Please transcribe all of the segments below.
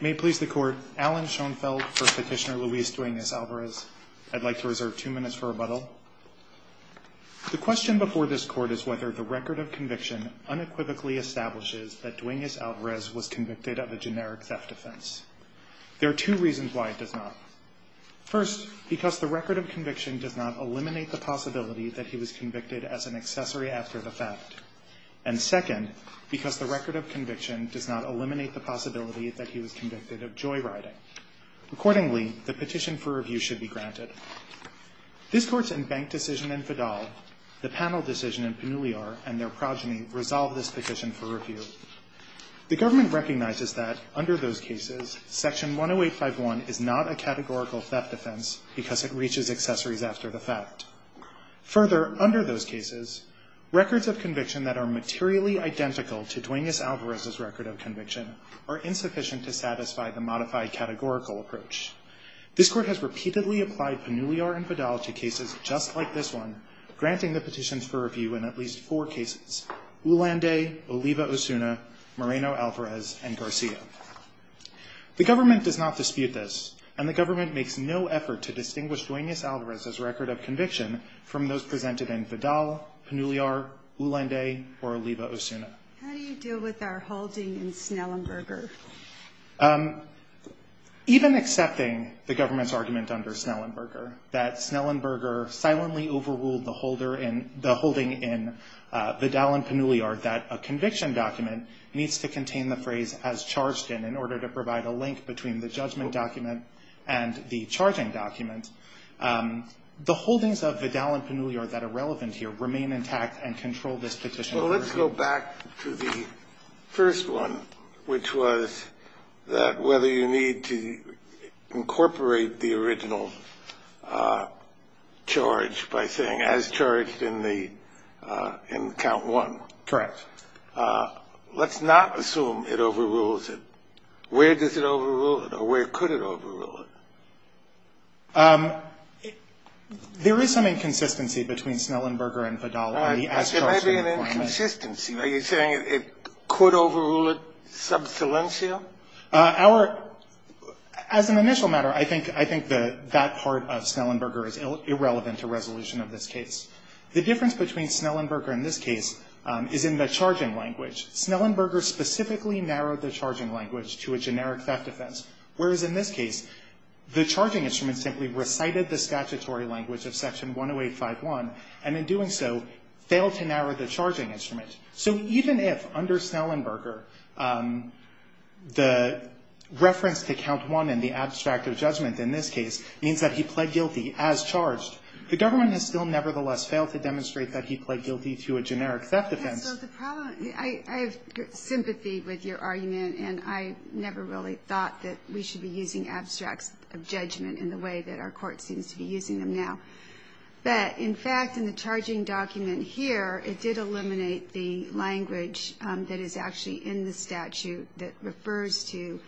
May it please the court, Alan Schoenfeld for Petitioner Luis Duenas-Alvarez. I'd like to reserve two minutes for rebuttal. The question before this court is whether the record of conviction unequivocally establishes that Duenas-Alvarez was convicted of a generic theft offense. There are two reasons why it does not. First, because the record of conviction does not eliminate the possibility that he was convicted as an accessory after the fact. And second, because the record of conviction does not eliminate the possibility that he was convicted of joyriding. Accordingly, the petition for review should be granted. This court's in-bank decision in Fidal, the panel decision in Panuliar, and their progeny resolve this petition for review. The government recognizes that under those cases, Section 10851 is not a categorical theft offense because it reaches accessories after the fact. Further, under those cases, records of conviction that are materially identical to Duenas-Alvarez's record of conviction are insufficient to satisfy the modified categorical approach. This court has repeatedly applied Panuliar and Fidal to cases just like this one, granting the petitions for review in at least four cases. Ulanday, Oliva Osuna, Moreno-Alvarez, and Garcia. The government does not dispute this, and the government makes no effort to distinguish Duenas-Alvarez's record of conviction from those presented in Fidal, Panuliar, Ulanday, or Oliva Osuna. How do you deal with our holding in Snellenberger? Even accepting the government's argument under Snellenberger that Snellenberger silently overruled the holder in the holding in Fidal and Panuliar that a conviction document needs to contain the phrase, as charged in, in order to provide a link between the judgment document and the charging document, the holdings of Fidal and Panuliar that are relevant here remain intact and control this petition? So let's go back to the first one, which was that whether you need to incorporate the original charge by saying, as charged in the, in count one. Correct. Let's not assume it overrules it. Where does it overrule it, or where could it overrule it? There is some inconsistency between Snellenberger and Fidal on the as-charged re-employment. There may be an inconsistency. Are you saying it could overrule it sub salientia? Our – as an initial matter, I think that part of Snellenberger is irrelevant to resolution of this case. The difference between Snellenberger in this case is in the charging language. Snellenberger specifically narrowed the charging language to a generic theft offense, whereas in this case, the charging instrument simply recited the statutory language of Section 10851, and in doing so, failed to narrow the charging instrument. So even if under Snellenberger, the reference to count one and the abstract of judgment in this case means that he pled guilty as charged, the government has still nevertheless failed to demonstrate that he pled guilty to a generic theft offense. So the problem – I have sympathy with your argument, and I never really thought that we should be using abstracts of judgment in the way that our court seems to be using them now. But in fact, in the charging document here, it did eliminate the language that is actually in the statute that refers to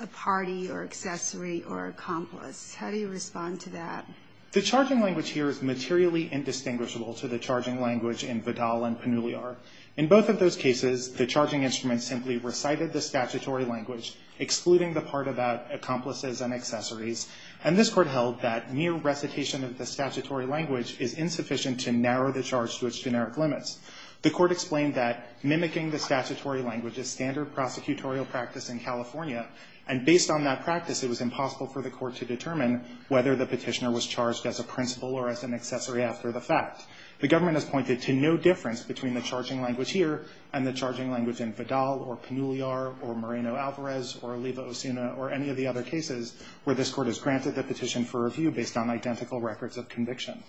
a party or accessory or accomplice. How do you respond to that? The charging language here is materially indistinguishable to the charging language in Vidal and Panuliar. In both of those cases, the charging instrument simply recited the statutory language, excluding the part about accomplices and accessories, and this Court held that mere recitation of the statutory language is insufficient to narrow the charge to its generic limits. The Court explained that mimicking the statutory language is standard prosecutorial practice in California, and based on that practice, it was impossible for the Court to determine whether the Petitioner was charged as a principal or as an accessory after the fact. The government has pointed to no difference between the charging language here and the charging language in Vidal or Panuliar or Moreno-Alvarez or Oliva-Osuna or any of the other cases where this Court has granted the petition for review based on identical records of conviction.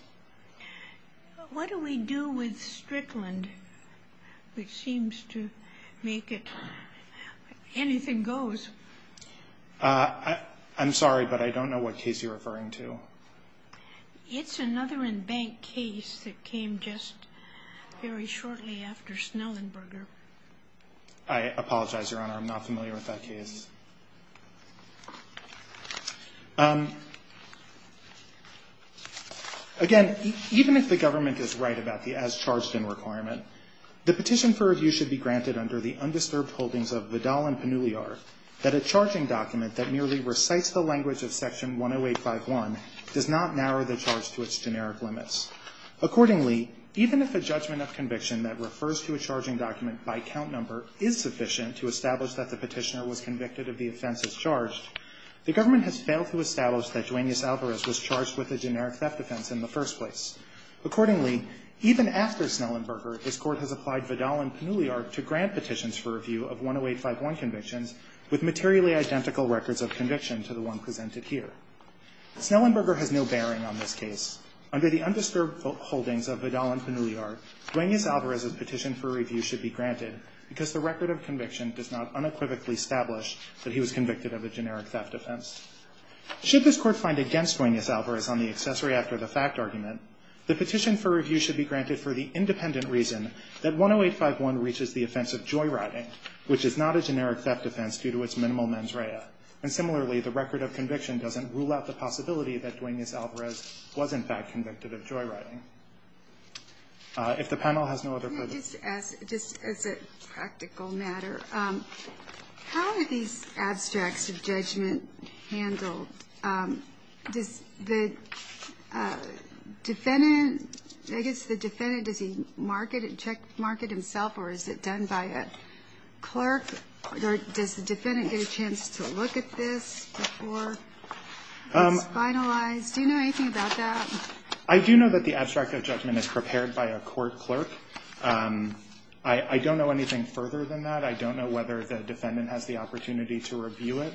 But what do we do with Strickland, which seems to make it anything goes? I'm sorry, but I don't know what case you're referring to. It's another in-bank case that came just very shortly after Snellenberger. I apologize, Your Honor. I'm not familiar with that case. Again, even if the government is right about the as-charged-in requirement, the petition for review should be granted under the undisturbed holdings of Vidal and Panuliar that a charging document that merely recites the language of Section 10851 does not narrow the charge to its generic limits. Accordingly, even if a judgment of conviction that refers to a charging document by count number is sufficient to establish that the Petitioner was convicted of the offenses charged, the government has failed to establish that Duaneus-Alvarez was charged with a generic theft offense in the first place. Accordingly, even after Snellenberger, this Court has applied Vidal and Panuliar to grant petitions for review of 10851 convictions with materially identical records of conviction to the one presented here. Snellenberger has no bearing on this case. Under the undisturbed holdings of Vidal and Panuliar, Duaneus-Alvarez's petition for review should be granted because the record of conviction does not unequivocally establish that he was convicted of a generic theft offense. Should this Court find against Duaneus-Alvarez on the accessory after the fact argument, the petition for review should be granted for the independent reason that 10851 reaches the offense of joyriding, which is not a generic theft offense due to its minimal mens rea. And similarly, the record of conviction doesn't rule out the possibility that Duaneus-Alvarez was, in fact, convicted of joyriding. If the panel has no other questions. Can I just ask, just as a practical matter, how are these abstracts of judgment handled? Does the defendant, I guess the defendant, does he checkmark it himself or is it done by a clerk? Or does the defendant get a chance to look at this before it's finalized? Do you know anything about that? I do know that the abstract of judgment is prepared by a court clerk. I don't know anything further than that. I don't know whether the defendant has the opportunity to review it.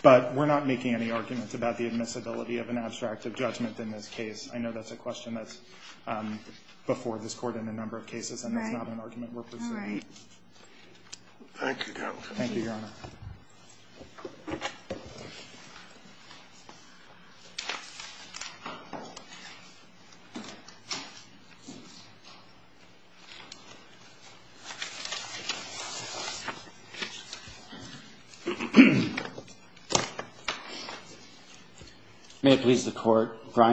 But we're not making any arguments about the admissibility of an abstract of judgment in this case. I know that's a question that's before this Court in a number of cases. And that's not an argument we're pursuing. All right. Thank you, counsel. Thank you, Your Honor. May it please the Court. Mr.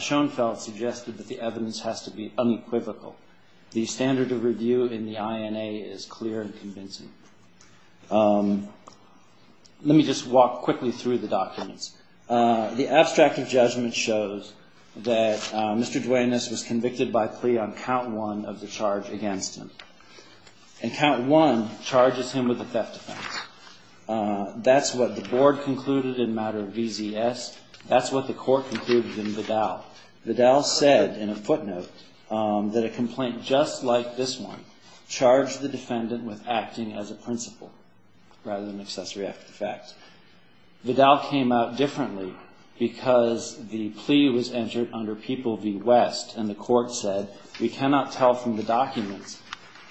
Schoenfeld suggested that the evidence has to be unequivocal. The standard of review in the INA is clear and convincing. Let me just walk quickly through the documents. The abstract of judgment shows that Mr. Duanis was convicted of having a plea on count one of the charge against him. And count one charges him with a theft offense. That's what the board concluded in matter of VZS. That's what the court concluded in Vidal. Vidal said in a footnote that a complaint just like this one charged the defendant with acting as a principal rather than accessory after the fact. Vidal came out differently because the plea was entered under People v. West, and the court said we cannot tell from the documents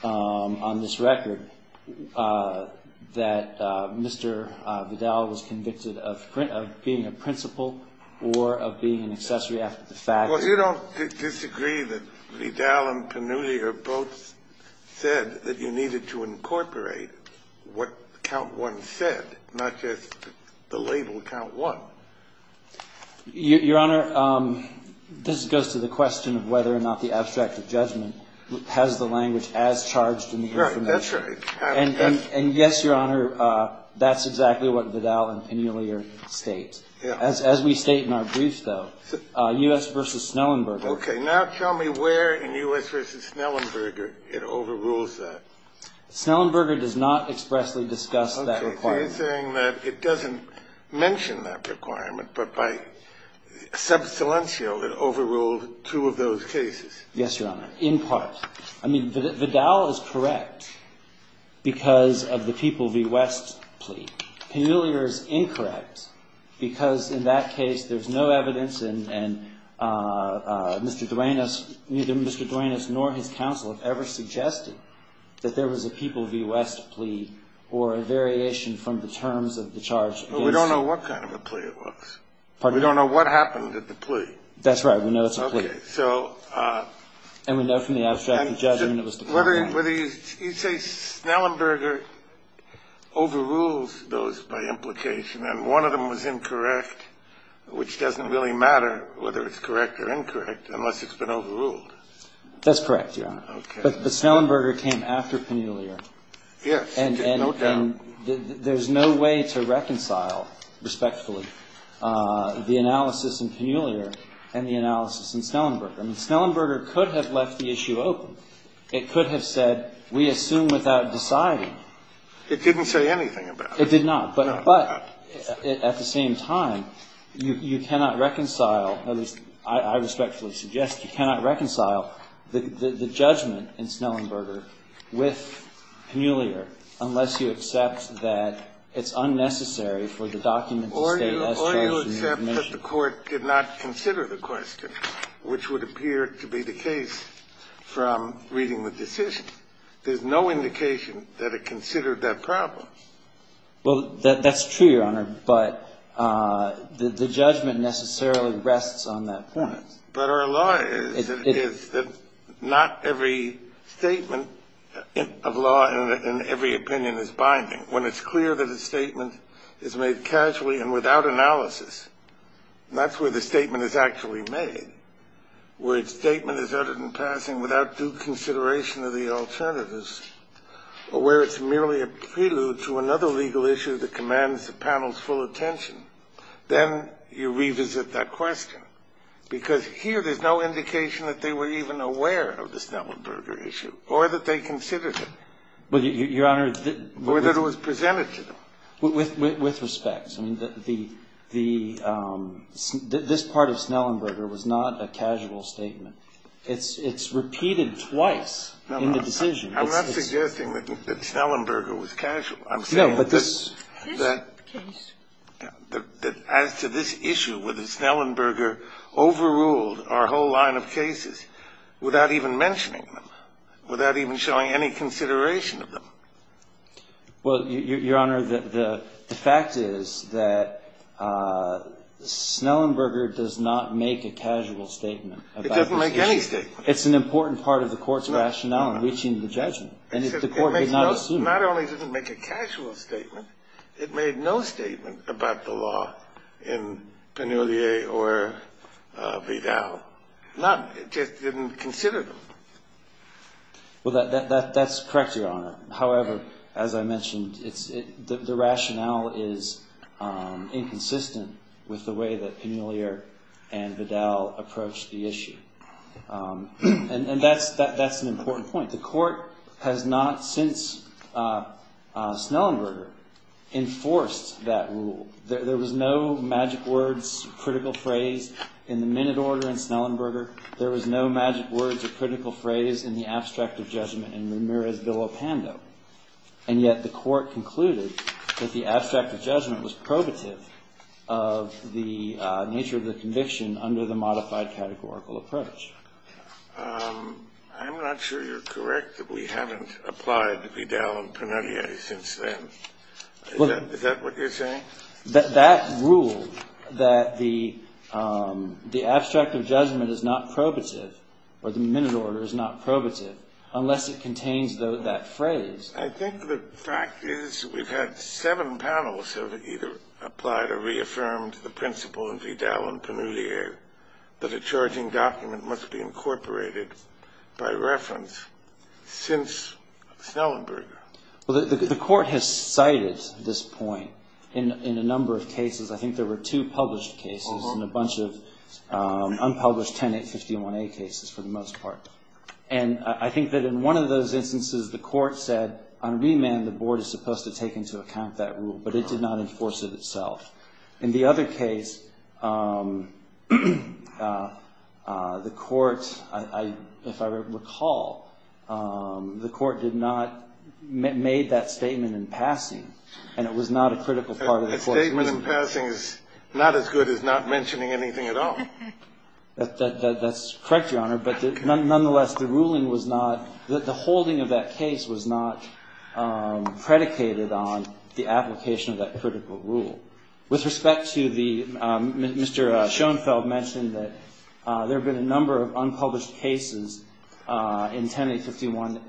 on this record that Mr. Vidal was convicted of being a principal or of being an accessory after the fact. Well, you don't disagree that Vidal and Penelier both said that you needed to incorporate what count one said, not just the label count one. Your Honor, this goes to the question of whether or not the abstract of judgment has the language as charged in the information. Right. That's right. And yes, Your Honor, that's exactly what Vidal and Penelier state. Yes. As we state in our briefs, though, U.S. v. Snellenberger Okay. Now tell me where in U.S. v. Snellenberger it overrules that. Snellenberger does not expressly discuss that requirement. Okay. He's saying that it doesn't mention that requirement, but by sub silencio, it overruled two of those cases. Yes, Your Honor, in part. I mean, Vidal is correct because of the People v. West plea. Penelier is incorrect because in that case there's no evidence and Mr. Duenas, neither Mr. Duenas nor his counsel have ever suggested that there was a People v. West plea or a variation from the terms of the charge. We don't know what kind of a plea it was. We don't know what happened at the plea. That's right. We know it's a plea. And we know from the abstract of judgment it was the problem. I'm wondering whether you say Snellenberger overrules those by implication and one of them was incorrect, which doesn't really matter whether it's correct or incorrect unless it's been overruled. That's correct, Your Honor. Okay. But Snellenberger came after Penelier. Yes. And there's no way to reconcile respectfully the analysis in Penelier and the analysis in Snellenberger. I mean, Snellenberger could have left the issue open. It could have said we assume without deciding. It didn't say anything about it. It did not. No, it did not. But at the same time, you cannot reconcile, at least I respectfully suggest, you cannot reconcile the judgment in Snellenberger with Penelier unless you accept that it's unnecessary for the document to state S charges of admission. Or you accept that the Court did not consider the question, which would appear to be the case from reading the decision. There's no indication that it considered that problem. Well, that's true, Your Honor, but the judgment necessarily rests on that point. But our law is that not every statement of law and every opinion is binding. When it's clear that a statement is made casually and without analysis, and that's where the statement is actually made, where a statement is uttered in passing without due consideration of the alternatives, or where it's merely a prelude to another legal issue that commands the panel's full attention, then you revisit that question. Because here there's no indication that they were even aware of the Snellenberger issue or that they considered it. Well, Your Honor, the ---- Or that it was presented to them. With respect. I mean, the ---- this part of Snellenberger was not a casual statement. It's repeated twice in the decision. I'm not suggesting that Snellenberger was casual. I'm saying that this ---- No, but this case ---- That as to this issue, whether Snellenberger overruled our whole line of cases without even mentioning them, without even showing any consideration of them. Well, Your Honor, the fact is that Snellenberger does not make a casual statement about this issue. It doesn't make any statement. It's an important part of the Court's rationale in reaching the judgment. And the Court did not assume it. Not only did it make a casual statement, it made no statement about the law in Penellier or Vidal. Not ---- it just didn't consider them. Well, that's correct, Your Honor. However, as I mentioned, the rationale is inconsistent with the way that Penelier and Vidal approached the issue. And that's an important point. The Court has not since Snellenberger enforced that rule. There was no magic words, critical phrase in the minute order in Snellenberger. There was no magic words or critical phrase in the abstract of judgment in Ramirez-Villopando. And yet the Court concluded that the abstract of judgment was probative of the nature of the conviction under the modified categorical approach. I'm not sure you're correct that we haven't applied Vidal and Penelier since then. Is that what you're saying? That rule that the abstract of judgment is not probative or the minute order is not probative unless it contains that phrase. I think the fact is we've had seven panels have either applied or reaffirmed the principle in Vidal and Penelier that a charging document must be incorporated by reference since Snellenberger. The Court has cited this point in a number of cases. I think there were two published cases and a bunch of unpublished 10-851-A cases for the most part. And I think that in one of those instances the Court said on remand the Board is supposed to take into account that rule, but it did not enforce it itself. In the other case, the Court, if I recall, the Court did not make that statement in passing and it was not a critical part of the Court's mission. A statement in passing is not as good as not mentioning anything at all. That's correct, Your Honor, but nonetheless the ruling was not, the holding of that case was not predicated on the application of that critical rule. With respect to the, Mr. Schoenfeld mentioned that there have been a number of unpublished cases in 10-851,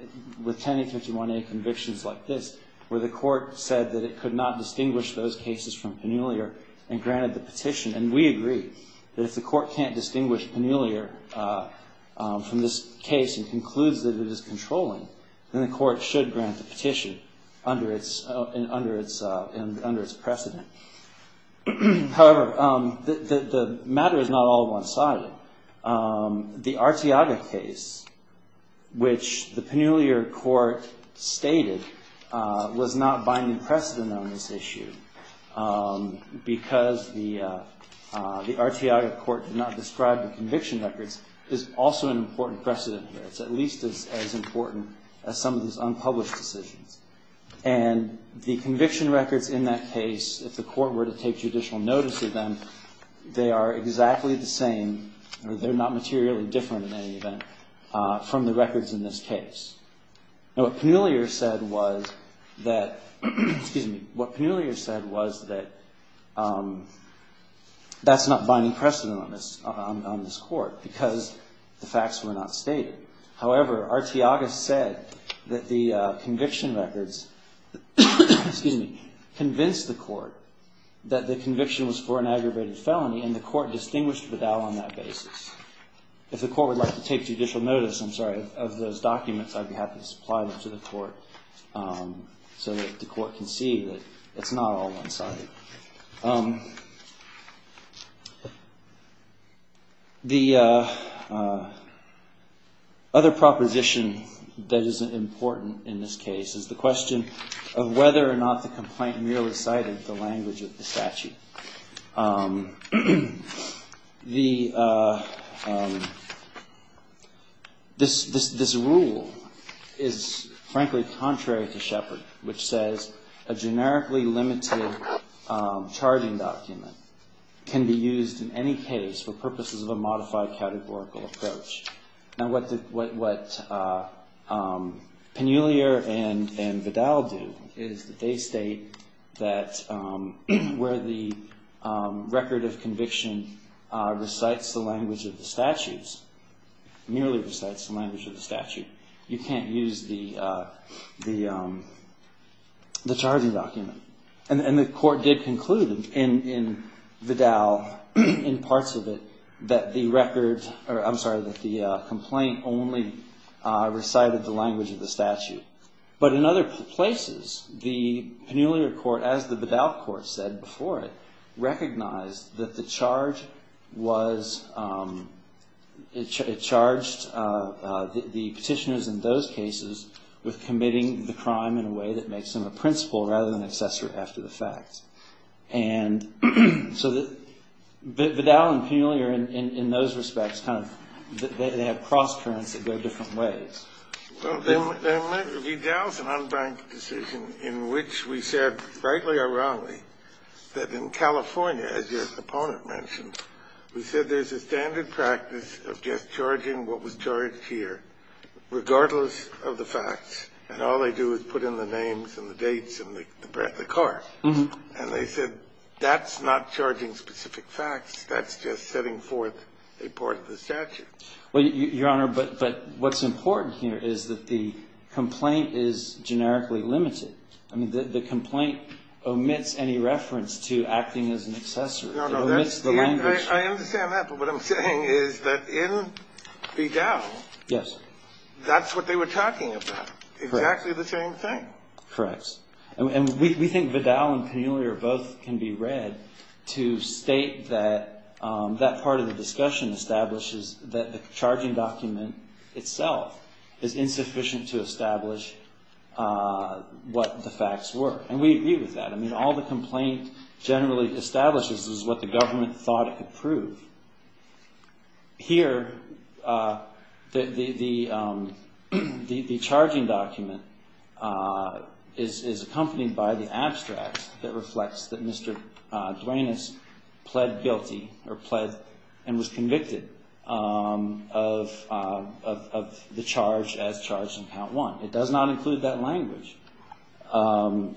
with 10-851-A convictions like this where the Court said that it could not distinguish those cases from Penelier and granted the petition. And we agree that if the Court can't distinguish Penelier from this case and concludes that it is controlling, then the Court should grant the petition under its precedent. However, the matter is not all one-sided. The Arteaga case, which the Penelier Court stated was not binding precedent on this issue because the Arteaga Court did not describe the conviction records, is also an important precedent here, it's at least as important as some of these unpublished decisions. And the conviction records in that case, if the Court were to take judicial notice of them, they are exactly the same or they're not materially different in any event from the records in this case. Now, what Penelier said was that, excuse me, what Penelier said was that that's not binding precedent on this Court because the facts were not stated. However, Arteaga said that the conviction records, excuse me, convinced the Court that the conviction was for an aggravated felony and the Court distinguished the doubt on that basis. If the Court would like to take judicial notice, I'm sorry, of those documents, I'd be happy to do that. The other proposition that is important in this case is the question of whether or not the complaint merely cited the language of the statute. This rule is frankly contrary to Shepard, which says a generically limited charging document can be used in any case for purposes of a modified categorical approach. Now, what Penelier and Vidal do is that they state that where the record of conviction recites the language of the statutes, merely recites the language of the statute, you can't use the charging document, and the Court did conclude in Vidal, in parts of it, that the record, or I'm sorry, that the complaint only recited the language of the statute. But in other places, the Penelier Court, as the Vidal Court said before it, recognized that the charge was, it charged the petitioners in those cases with committing the crime in a way that makes them a principal rather than an accessory after the fact. And so Vidal and Penelier, in those respects, kind of, they have cross-currents that go different ways. Vidal's an unbanked decision in which we said, rightly or wrongly, that in California, as your opponent mentioned, we said there's a standard practice of just charging what was charged here, regardless of the facts, and all they do is put in the names and the dates and the card. And they said, that's not charging specific facts. That's just setting forth a part of the statute. Well, Your Honor, but what's important here is that the complaint is generically limited. I mean, the complaint omits any reference to acting as an accessory. It omits the language. I understand that, but what I'm saying is that in Vidal, that's what they were talking about. Correct. Exactly the same thing. Correct. And we think Vidal and Penelier both can be read to state that that part of the discussion establishes that the charging document itself is insufficient to establish what the facts were. And we agree with that. I mean, all the complaint generally establishes is what the government thought it could prove. Here, the charging document is accompanied by the abstract that reflects that Mr. Duenas pled guilty or pled and was convicted of the charge as charged in count one. It does not include that language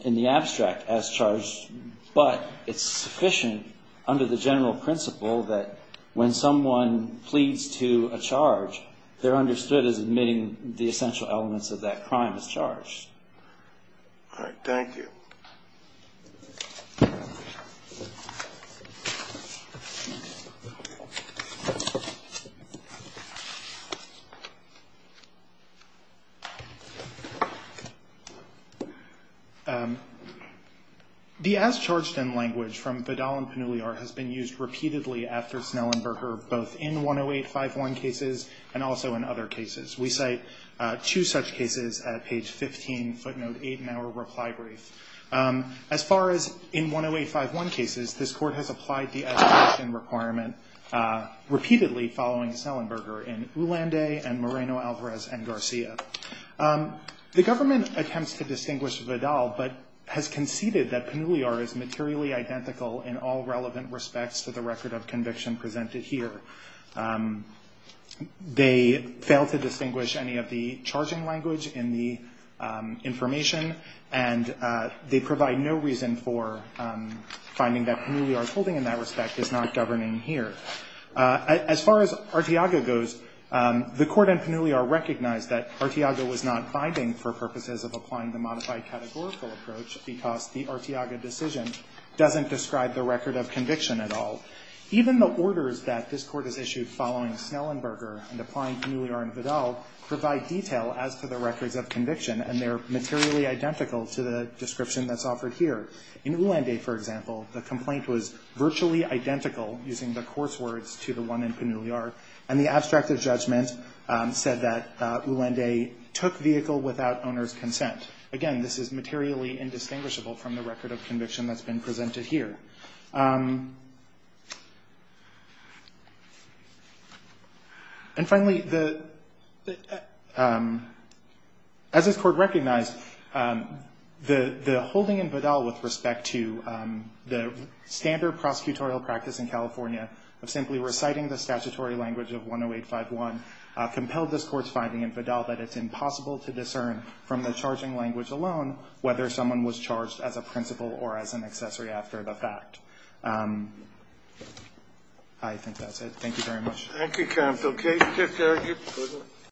in the abstract as charged, but it's sufficient under the general principle that when someone pleads to a charge, they're understood as admitting the essential elements of that crime as charged. All right. Thank you. The as charged in language from Vidal and Penelier has been used repeatedly after Snellenberger both in 10851 cases and also in other cases. We cite two such cases at page 15, footnote eight in our reply brief. As far as in 10851 cases, this court has applied the as charged in requirement repeatedly following Snellenberger in Ulanday and Moreno, Alvarez and Garcia. The government attempts to distinguish Vidal, but has conceded that Penelier is materially identical in all relevant respects to the record of conviction presented here. They fail to distinguish any of the charging language in the information, and they provide no reason for finding that Penelier's holding in that respect is not governing here. As far as Arteaga goes, the court in Penelier recognized that Arteaga was not binding for purposes of applying the modified categorical approach because the Arteaga decision doesn't describe the record of conviction at all. Even the orders that this court has issued following Snellenberger and applying Penelier and Vidal provide detail as to the records of conviction, and they're materially identical to the description that's offered here. In Ulanday, for example, the complaint was virtually identical, using the course words, to the one in Penelier, and the abstract of judgment said that Ulanday took vehicle without owner's consent. Again, this is materially indistinguishable from the record of conviction that's been presented here. And finally, as this court recognized, the holding in Vidal with respect to the standard prosecutorial practice in California of simply reciting the statutory language of 10851 compelled this court's finding in Vidal that it's impossible to discern from the charging language alone whether someone was charged as a principal or as an accessory after the fact. I think that's it. Thank you very much. Thank you, counsel. Case is adjourned.